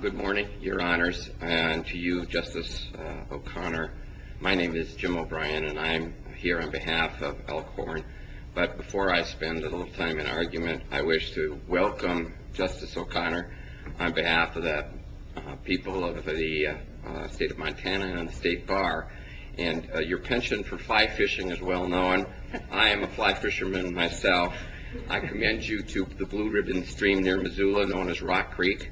Good morning, your honors. And to you, Justice O'Connor, my name is Jim O'Brien and I'm here on behalf of Elkhorn. But before I spend a little time in argument, I wish to welcome Justice O'Connor on behalf of the people of the state of Montana and the state bar. And your penchant for fly fishing is well known. I am a fly fisherman myself. I commend you to the Blue Ribbon Stream near Missoula, known as Rock Creek.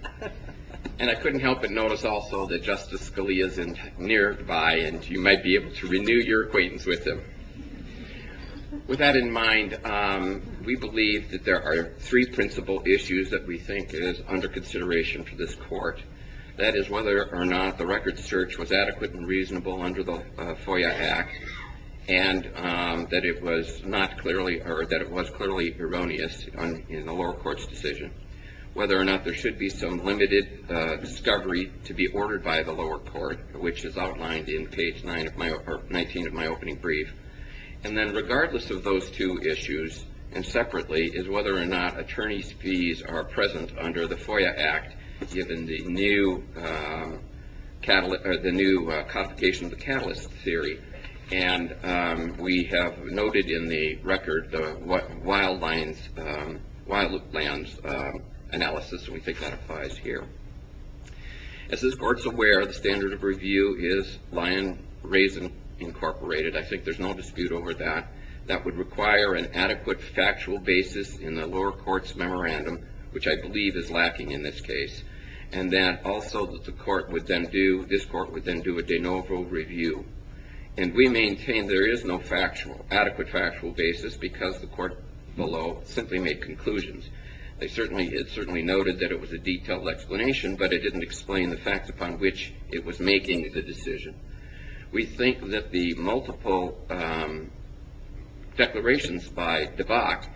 And I couldn't help but notice also that Justice Scalia is nearby and you might be able to renew your acquaintance with him. With that in mind, we believe that there are three principal issues that we think is under consideration for this court. That is whether or not the record search was adequate and reasonable under the FOIA Act and that it was clearly erroneous in the lower court's decision. Whether or not there should be some limited discovery to be ordered by the lower court, which is outlined in page 19 of my opening brief. And then regardless of those two issues, and separately, is whether or not attorney's fees are present under the FOIA Act given the new complication of the catalyst theory. And we have noted in the record the wild lands analysis and we think that applies here. As this court is aware, the standard of review is Lyon Raisin Incorporated. I think there's no dispute over that. That would require an adequate factual basis in the lower court's memorandum, which I believe is lacking in this case. And that also the court would then do, this court would then do a de novo review. And we maintain there is no adequate factual basis because the court below simply made conclusions. It certainly noted that it was a detailed explanation, but it didn't explain the facts upon which it was making the decision. We think that the multiple declarations by DeVock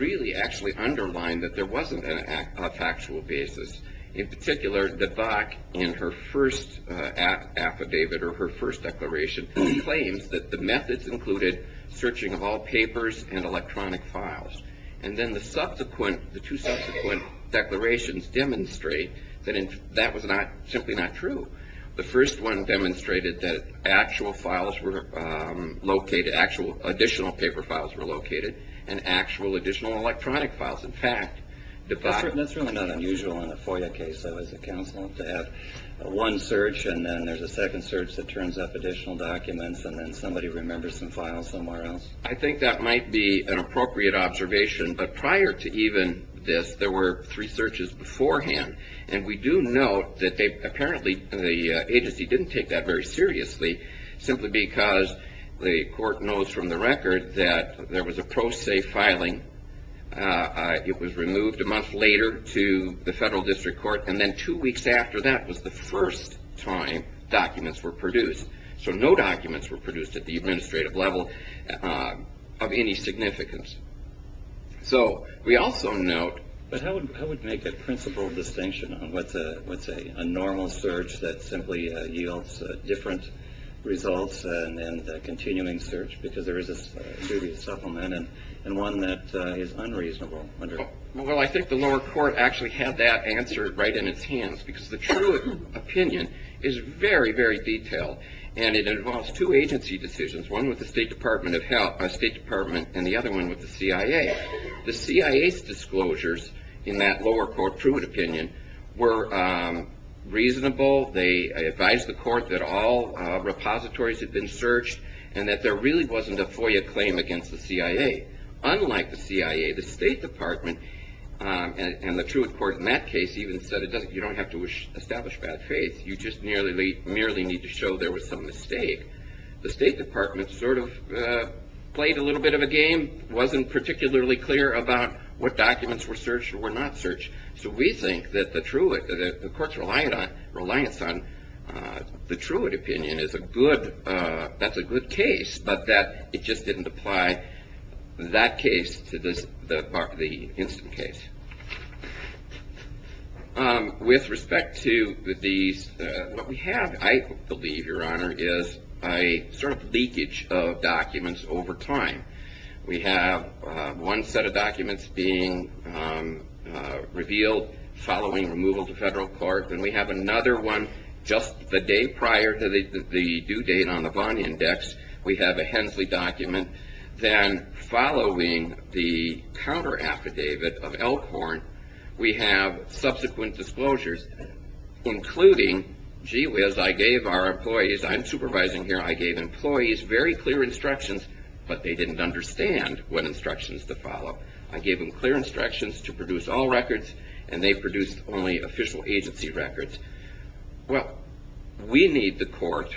really actually underline that there wasn't a factual basis. In particular, DeVock in her first affidavit or her first declaration claims that the methods included searching of all papers and electronic files. And then the subsequent, the two subsequent declarations demonstrate that that was simply not true. The first one demonstrated that actual files were located, actual additional paper files were located and actual additional electronic files. In fact, DeVock- That's really not unusual in a FOIA case, though, as a counsel, to have one search and then there's a second search that turns up additional documents and then somebody remembers some files somewhere else. I think that might be an appropriate observation. But prior to even this, there were three searches beforehand. And we do note that apparently the agency didn't take that very seriously simply because the court knows from the record that there was a pro se filing. It was removed a month later to the federal district court. And then two weeks after that was the first time documents were produced. So no documents were produced at the administrative level of any significance. So we also note- But how would make a principal distinction on what's a normal search that simply yields different results and then a continuing search because there is a duty to supplement and one that is unreasonable under- And it involves two agency decisions, one with the State Department and the other one with the CIA. The CIA's disclosures in that lower court Truitt opinion were reasonable. They advised the court that all repositories had been searched and that there really wasn't a FOIA claim against the CIA. Unlike the CIA, the State Department and the Truitt court in that case even said you don't have to establish bad faith. You just merely need to show there was some mistake. The State Department sort of played a little bit of a game, wasn't particularly clear about what documents were searched or were not searched. So we think that the court's reliance on the Truitt opinion is a good- That's a good case, but that it just didn't apply that case to the Instant case. With respect to these, what we have, I believe, Your Honor, is a sort of leakage of documents over time. We have one set of documents being revealed following removal to federal court. Then we have another one just the day prior to the due date on the Vaughn Index. We have a Hensley document. Then following the counteraffidavit of Elkhorn, we have subsequent disclosures, including, gee whiz, I gave our employees, I'm supervising here, I gave employees very clear instructions, but they didn't understand what instructions to follow. I gave them clear instructions to produce all records, and they produced only official agency records. Well, we need the court.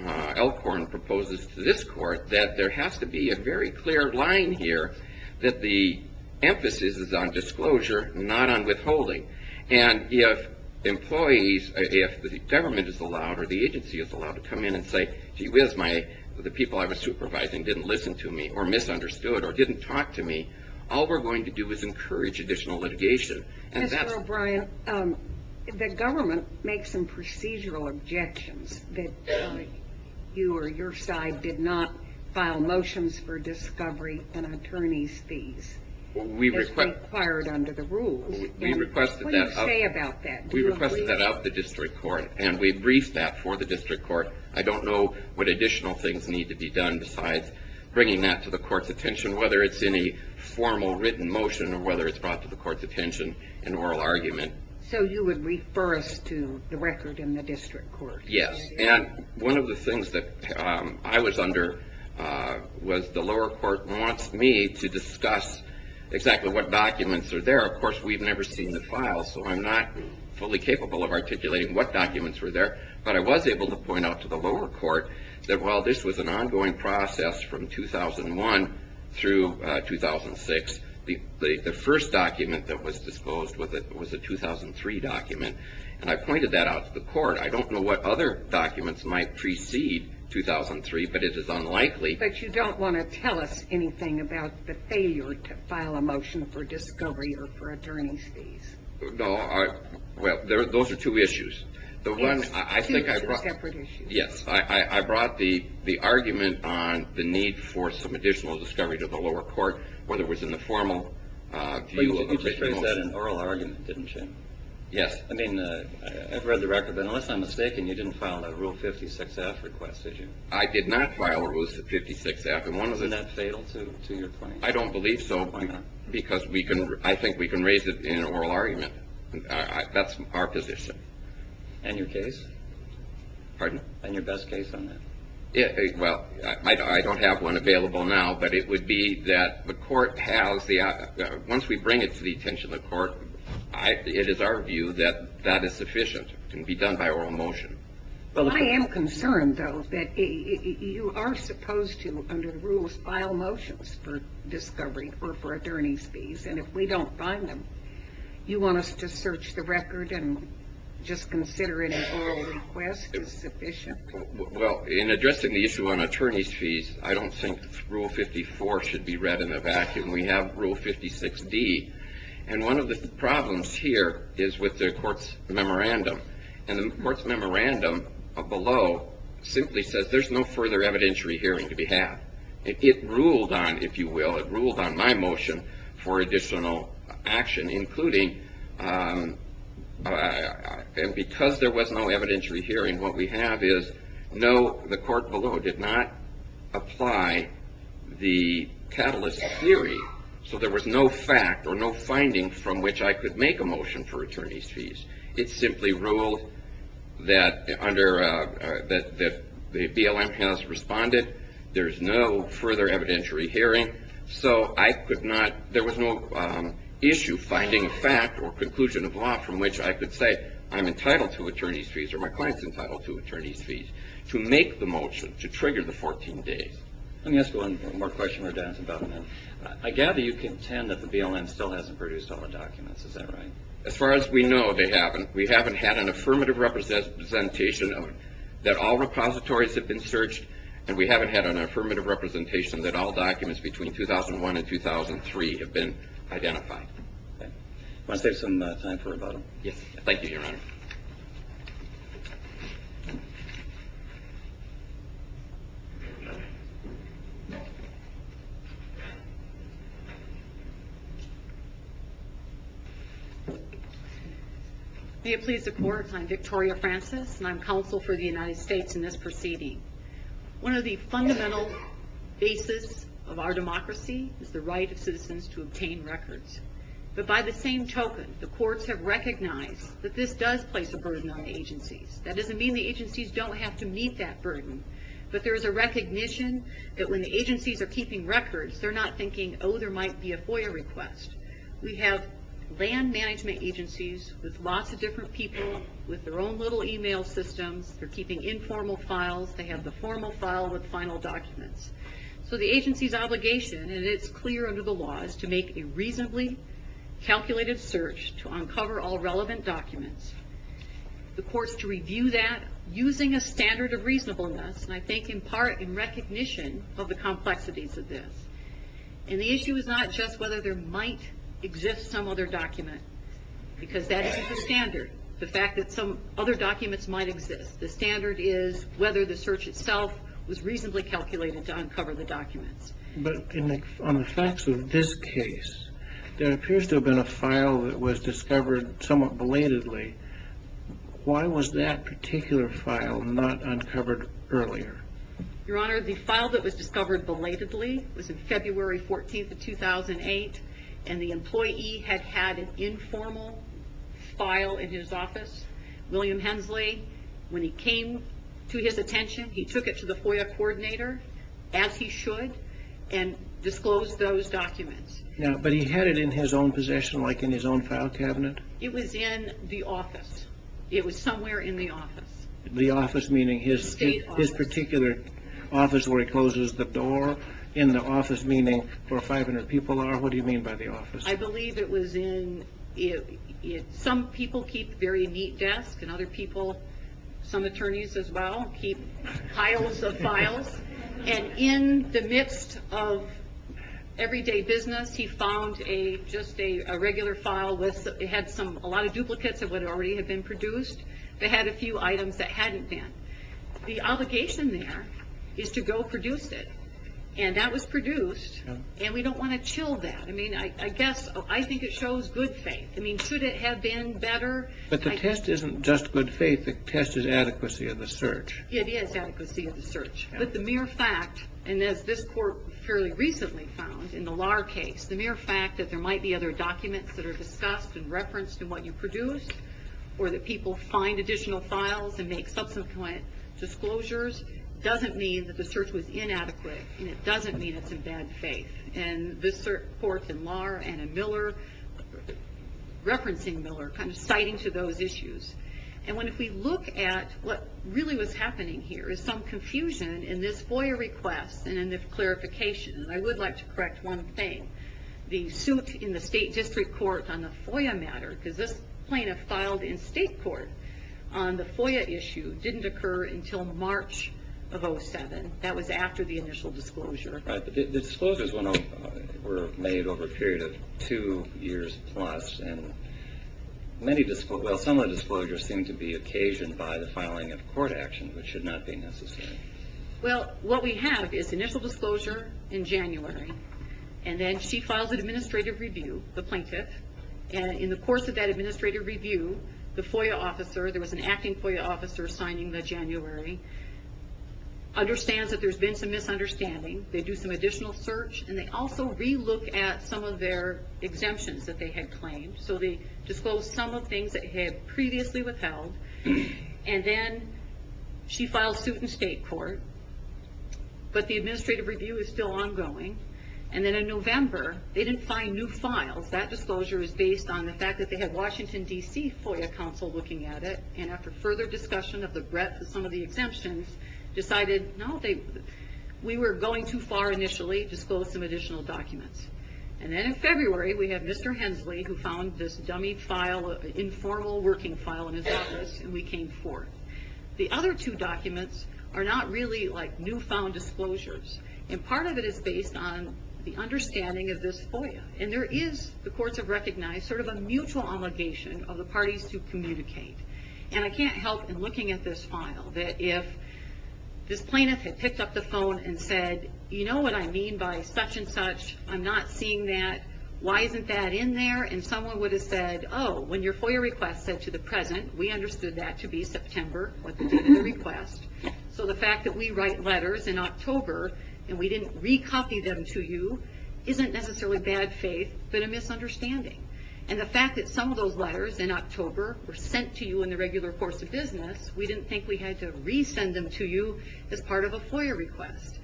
Elkhorn proposes to this court that there has to be a very clear line here that the emphasis is on disclosure, not on withholding. And if employees, if the government is allowed or the agency is allowed to come in and say, gee whiz, the people I was supervising didn't listen to me or misunderstood or didn't talk to me, all we're going to do is encourage additional litigation. Mr. O'Brien, the government makes some procedural objections that you or your side did not file motions for discovery and attorney's fees as required under the rules. What do you say about that? We requested that out of the district court, and we briefed that for the district court. I don't know what additional things need to be done besides bringing that to the court's attention, whether it's in a formal written motion or whether it's brought to the court's attention in oral argument. So you would refer us to the record in the district court? Yes. And one of the things that I was under was the lower court wants me to discuss exactly what documents are there. Of course, we've never seen the files, so I'm not fully capable of articulating what documents were there. But I was able to point out to the lower court that while this was an ongoing process from 2001 through 2006, the first document that was disposed was a 2003 document. And I pointed that out to the court. I don't know what other documents might precede 2003, but it is unlikely. But you don't want to tell us anything about the failure to file a motion for discovery or for attorney's fees? No. Well, those are two issues. Two separate issues. Yes. I brought the argument on the need for some additional discovery to the lower court, whether it was in the formal view of written motions. But you just raised that in oral argument, didn't you? Yes. I mean, I've read the record. But unless I'm mistaken, you didn't file a Rule 56-F request, did you? I did not file a Rule 56-F. Isn't that fatal to your claim? I don't believe so. Why not? Because I think we can raise it in oral argument. That's our position. And your case? Pardon? And your best case on that? Well, I don't have one available now. But it would be that the court has the option. Once we bring it to the attention of the court, it is our view that that is sufficient. It can be done by oral motion. I am concerned, though, that you are supposed to, under the rules, file motions for discovery or for attorney's fees. And if we don't find them, you want us to search the record and just consider an oral request as sufficient? Well, in addressing the issue on attorney's fees, I don't think Rule 54 should be read in a vacuum. We have Rule 56-D. And one of the problems here is with the court's memorandum. And the court's memorandum below simply says there's no further evidentiary hearing to be had. It ruled on, if you will, it ruled on my motion for additional action, including and because there was no evidentiary hearing, what we have is, no, the court below did not apply the catalyst theory. So there was no fact or no finding from which I could make a motion for attorney's fees. It simply ruled that the BLM has responded. There's no further evidentiary hearing. So I could not, there was no issue finding fact or conclusion of law from which I could say I'm entitled to attorney's fees or my client's entitled to attorney's fees to make the motion to trigger the 14 days. Let me ask one more question. I gather you contend that the BLM still hasn't produced all the documents. Is that right? As far as we know, they haven't. We haven't had an affirmative representation that all repositories have been searched, and we haven't had an affirmative representation that all documents between 2001 and 2003 have been identified. Want to save some time for rebuttal? Yes. Thank you, Your Honor. May it please the Court, I'm Victoria Francis, and I'm counsel for the United States in this proceeding. One of the fundamental bases of our democracy is the right of citizens to obtain records. But by the same token, the courts have recognized that this does place a burden on the agencies. That doesn't mean the agencies don't have to meet that burden, but there is a recognition that when the agencies are keeping records, they're not thinking, oh, there might be a FOIA request. We have land management agencies with lots of different people with their own little e-mail systems. They're keeping informal files. They have the formal file with final documents. So the agency's obligation, and it's clear under the law, is to make a reasonably calculated search to uncover all relevant documents. The courts to review that using a standard of reasonableness, and I think in part in recognition of the complexities of this. And the issue is not just whether there might exist some other document, because that isn't the standard, the fact that some other documents might exist. The standard is whether the search itself was reasonably calculated to uncover the documents. But on the facts of this case, there appears to have been a file that was discovered somewhat belatedly. Why was that particular file not uncovered earlier? Your Honor, the file that was discovered belatedly was in February 14th of 2008, and the employee had had an informal file in his office. William Hensley, when he came to his attention, he took it to the FOIA coordinator, as he should, and disclosed those documents. But he had it in his own possession, like in his own file cabinet? It was in the office. It was somewhere in the office. The office meaning his particular office where he closes the door, and the office meaning where 500 people are? What do you mean by the office? I believe it was in, some people keep very neat desks, and other people, some attorneys as well, keep piles of files. And in the midst of everyday business, he found just a regular file. It had a lot of duplicates of what already had been produced. It had a few items that hadn't been. The obligation there is to go produce it. And that was produced, and we don't want to chill that. I mean, I guess, I think it shows good faith. I mean, should it have been better? But the test isn't just good faith. I think the test is adequacy of the search. Yeah, it is adequacy of the search. But the mere fact, and as this Court fairly recently found in the Lahr case, the mere fact that there might be other documents that are discussed and referenced in what you produced, or that people find additional files and make subsequent disclosures, doesn't mean that the search was inadequate, and it doesn't mean it's in bad faith. And this Court, and Lahr, and Miller, referencing Miller, kind of citing to those issues. And if we look at what really was happening here, is some confusion in this FOIA request and in the clarification. And I would like to correct one thing. The suit in the State District Court on the FOIA matter, because this plaintiff filed in State Court on the FOIA issue, didn't occur until March of 2007. That was after the initial disclosure. Right, the disclosures were made over a period of two years plus. Well, some of the disclosures seem to be occasioned by the filing of court action, which should not be necessary. Well, what we have is initial disclosure in January, and then she files an administrative review, the plaintiff. And in the course of that administrative review, the FOIA officer, there was an acting FOIA officer signing the January, understands that there's been some misunderstanding. They do some additional search, and they also re-look at some of their exemptions that they had claimed. So they disclosed some of the things that had previously withheld. And then she files suit in State Court, but the administrative review is still ongoing. And then in November, they didn't find new files. That disclosure is based on the fact that they had Washington, D.C., FOIA counsel looking at it, and after further discussion of the breadth of some of the exemptions, decided, no, we were going too far initially, disclosed some additional documents. And then in February, we have Mr. Hensley, who found this dummy file, informal working file in his office, and we came forth. The other two documents are not really like newfound disclosures, and part of it is based on the understanding of this FOIA. And there is, the courts have recognized, sort of a mutual obligation of the parties to communicate. And I can't help in looking at this file that if this plaintiff had picked up the phone and said, you know what I mean by such and such, I'm not seeing that, why isn't that in there? And someone would have said, oh, when your FOIA request said to the present, we understood that to be September, what they did in the request. So the fact that we write letters in October, and we didn't recopy them to you isn't necessarily bad faith, but a misunderstanding. And the fact that some of those letters in October were sent to you in the regular course of business, we didn't think we had to resend them to you as part of a FOIA request.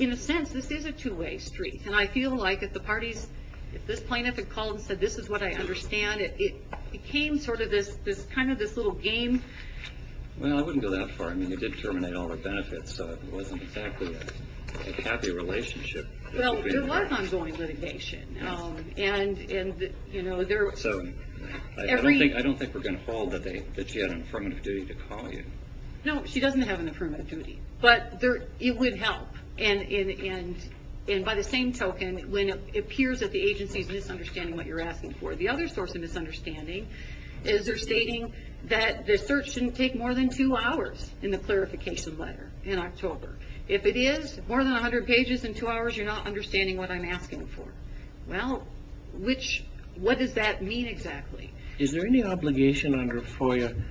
In a sense, this is a two-way street. And I feel like if the parties, if this plaintiff had called and said, this is what I understand, it became sort of this, kind of this little game. Well, I wouldn't go that far. I mean, it did terminate all the benefits, so it wasn't exactly a happy relationship. Well, there was ongoing litigation. And, you know, there was. I don't think we're going to hold that she had an affirmative duty to call you. No, she doesn't have an affirmative duty. But it would help. And by the same token, when it appears that the agency is misunderstanding what you're asking for, the other source of misunderstanding is they're stating that the search shouldn't take more than two hours in the clarification letter in October. If it is more than 100 pages in two hours, you're not understanding what I'm asking for. Well, which, what does that mean exactly? Is there any obligation under FOIA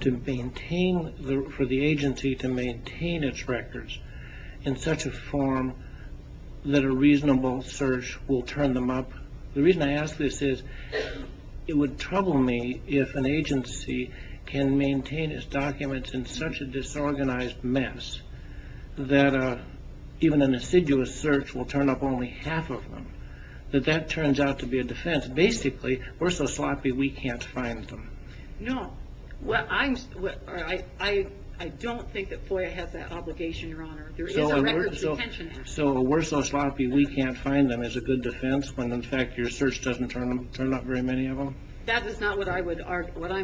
to maintain, for the agency to maintain its records in such a form that a reasonable search will turn them up? The reason I ask this is, it would trouble me if an agency can maintain its documents in such a disorganized mess that even an assiduous search will turn up only half of them. That that turns out to be a defense. Basically, we're so sloppy we can't find them. No. I don't think that FOIA has that obligation, Your Honor. There is a records detention act. So, we're so sloppy we can't find them is a good defense when, in fact, your search doesn't turn up very many of them? That is not what I'm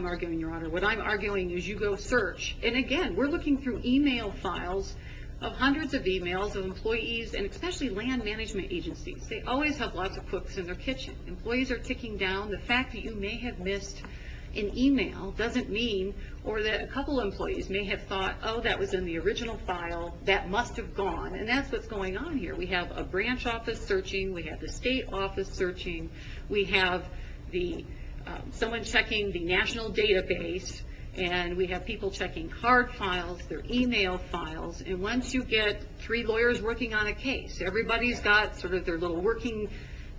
arguing, Your Honor. What I'm arguing is you go search. And, again, we're looking through e-mail files of hundreds of e-mails of employees, and especially land management agencies. They always have lots of cooks in their kitchen. Employees are ticking down. The fact that you may have missed an e-mail doesn't mean, or that a couple of employees may have thought, oh, that was in the original file. That must have gone. And that's what's going on here. We have a branch office searching. We have the state office searching. We have someone checking the national database. And we have people checking card files, their e-mail files. And once you get three lawyers working on a case, everybody's got sort of their little working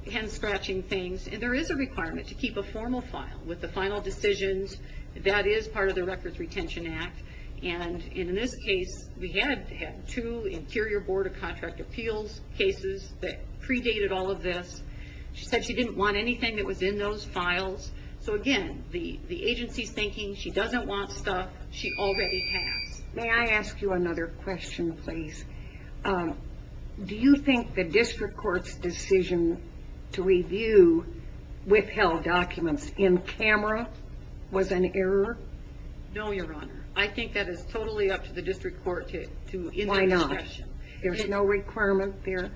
hand scratching things. And there is a requirement to keep a formal file with the final decisions. That is part of the records retention act. And in this case, we had two interior board of contract appeals cases that predated all of this. She said she didn't want anything that was in those files. So, again, the agency's thinking she doesn't want stuff she already has. May I ask you another question, please? Do you think the district court's decision to review withheld documents in camera was an error? No, Your Honor. I think that is totally up to the district court to end the discussion. Why not? There's no requirement there?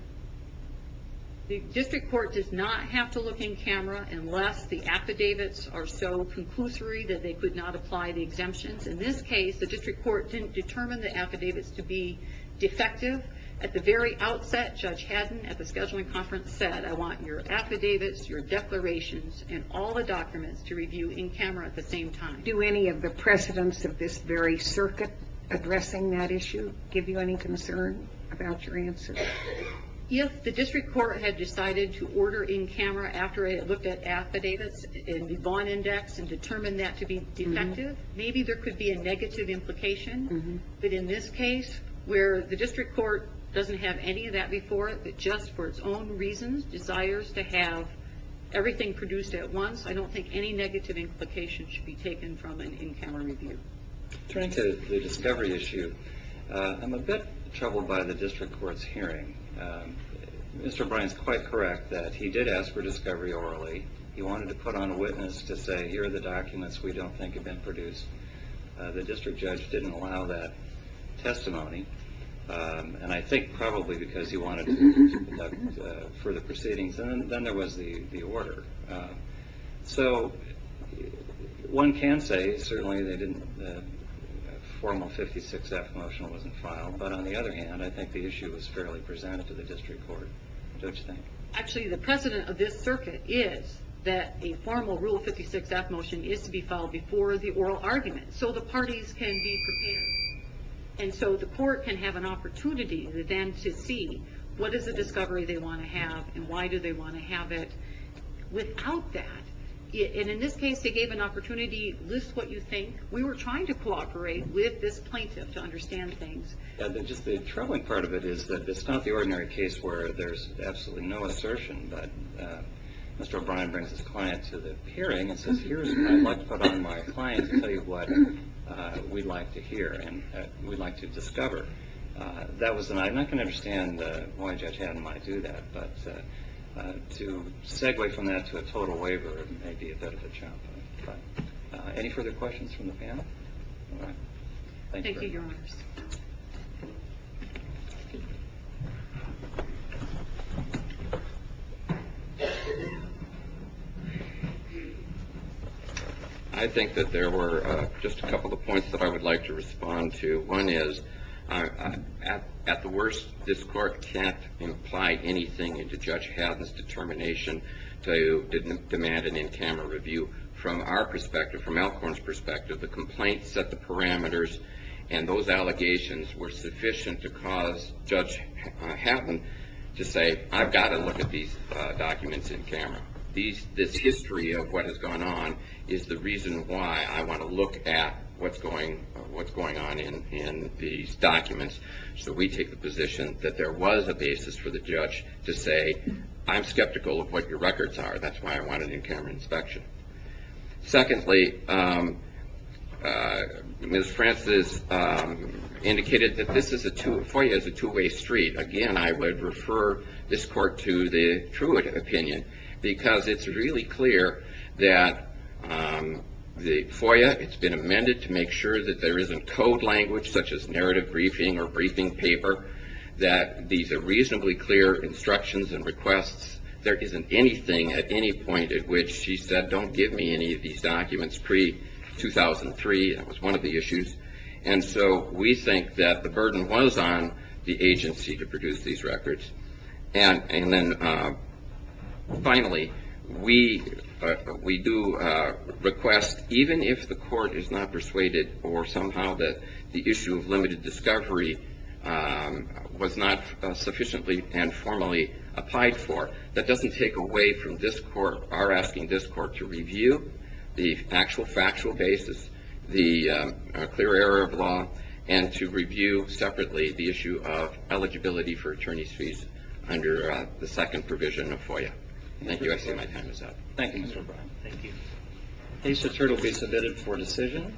The district court does not have to look in camera unless the affidavits are so conclusory that they could not apply the exemptions. In this case, the district court didn't determine the affidavits to be defective. At the very outset, Judge Haddon at the scheduling conference said, I want your affidavits, your declarations, and all the documents to review in camera at the same time. Do any of the precedents of this very circuit addressing that issue give you any concern about your answer? If the district court had decided to order in camera after it looked at affidavits in the Vaughan Index and determined that to be defective, maybe there could be a negative implication. But in this case, where the district court doesn't have any of that before it, but just for its own reasons, desires to have everything produced at once, I don't think any negative implication should be taken from an in-camera review. Turning to the discovery issue, I'm a bit troubled by the district court's hearing. Mr. Bryant's quite correct that he did ask for discovery orally. He wanted to put on a witness to say, here are the documents we don't think have been produced. The district judge didn't allow that testimony. And I think probably because he wanted to conduct further proceedings. And then there was the order. So one can say, certainly, that a formal 56-F motion wasn't filed. But on the other hand, I think the issue was fairly presented to the district court. Don't you think? Actually, the precedent of this circuit is that a formal Rule 56-F motion is to be filed before the oral argument. So the parties can be prepared. And so the court can have an opportunity then to see what is the discovery they want to have and why do they want to have it without that. And in this case, they gave an opportunity, list what you think. We were trying to cooperate with this plaintiff to understand things. Just the troubling part of it is that it's not the ordinary case where there's absolutely no assertion. But Mr. O'Brien brings his client to the hearing and says, here's what I'd like to put on my client to tell you what we'd like to hear and we'd like to discover. I'm not going to understand why Judge Hatton might do that. But to segue from that to a total waiver may be a bit of a chomp. But any further questions from the panel? All right. Thank you. Thank you, Your Honors. I think that there were just a couple of points that I would like to respond to. One is, at the worst, this court can't imply anything into Judge Hatton's determination to demand an in-camera review. From our perspective, from Alcorn's perspective, the complaints set the parameters and those allegations were sufficient to cause Judge Hatton to say, I've got to look at these documents in camera. This history of what has gone on is the reason why I want to look at what's going on in these documents. So we take the position that there was a basis for the judge to say, I'm skeptical of what your records are. That's why I want an in-camera inspection. Secondly, Ms. Francis indicated that this is a two-way street. Again, I would refer this court to the Truitt opinion because it's really clear that the FOIA, it's been amended to make sure that there isn't code language such as narrative briefing or briefing paper, that these are reasonably clear instructions and requests. There isn't anything at any point at which she said, don't give me any of these documents pre-2003. That was one of the issues. And so we think that the burden was on the agency to produce these records. And then finally, we do request, even if the court is not persuaded or somehow that the issue of limited discovery was not sufficiently and formally applied for, that doesn't take away from this court, we are asking this court to review the actual factual basis, the clear error of law, and to review separately the issue of eligibility for attorney's fees under the second provision of FOIA. Thank you. I see my time is up. Thank you, Mr. O'Brien. Thank you. The case will be submitted for decision.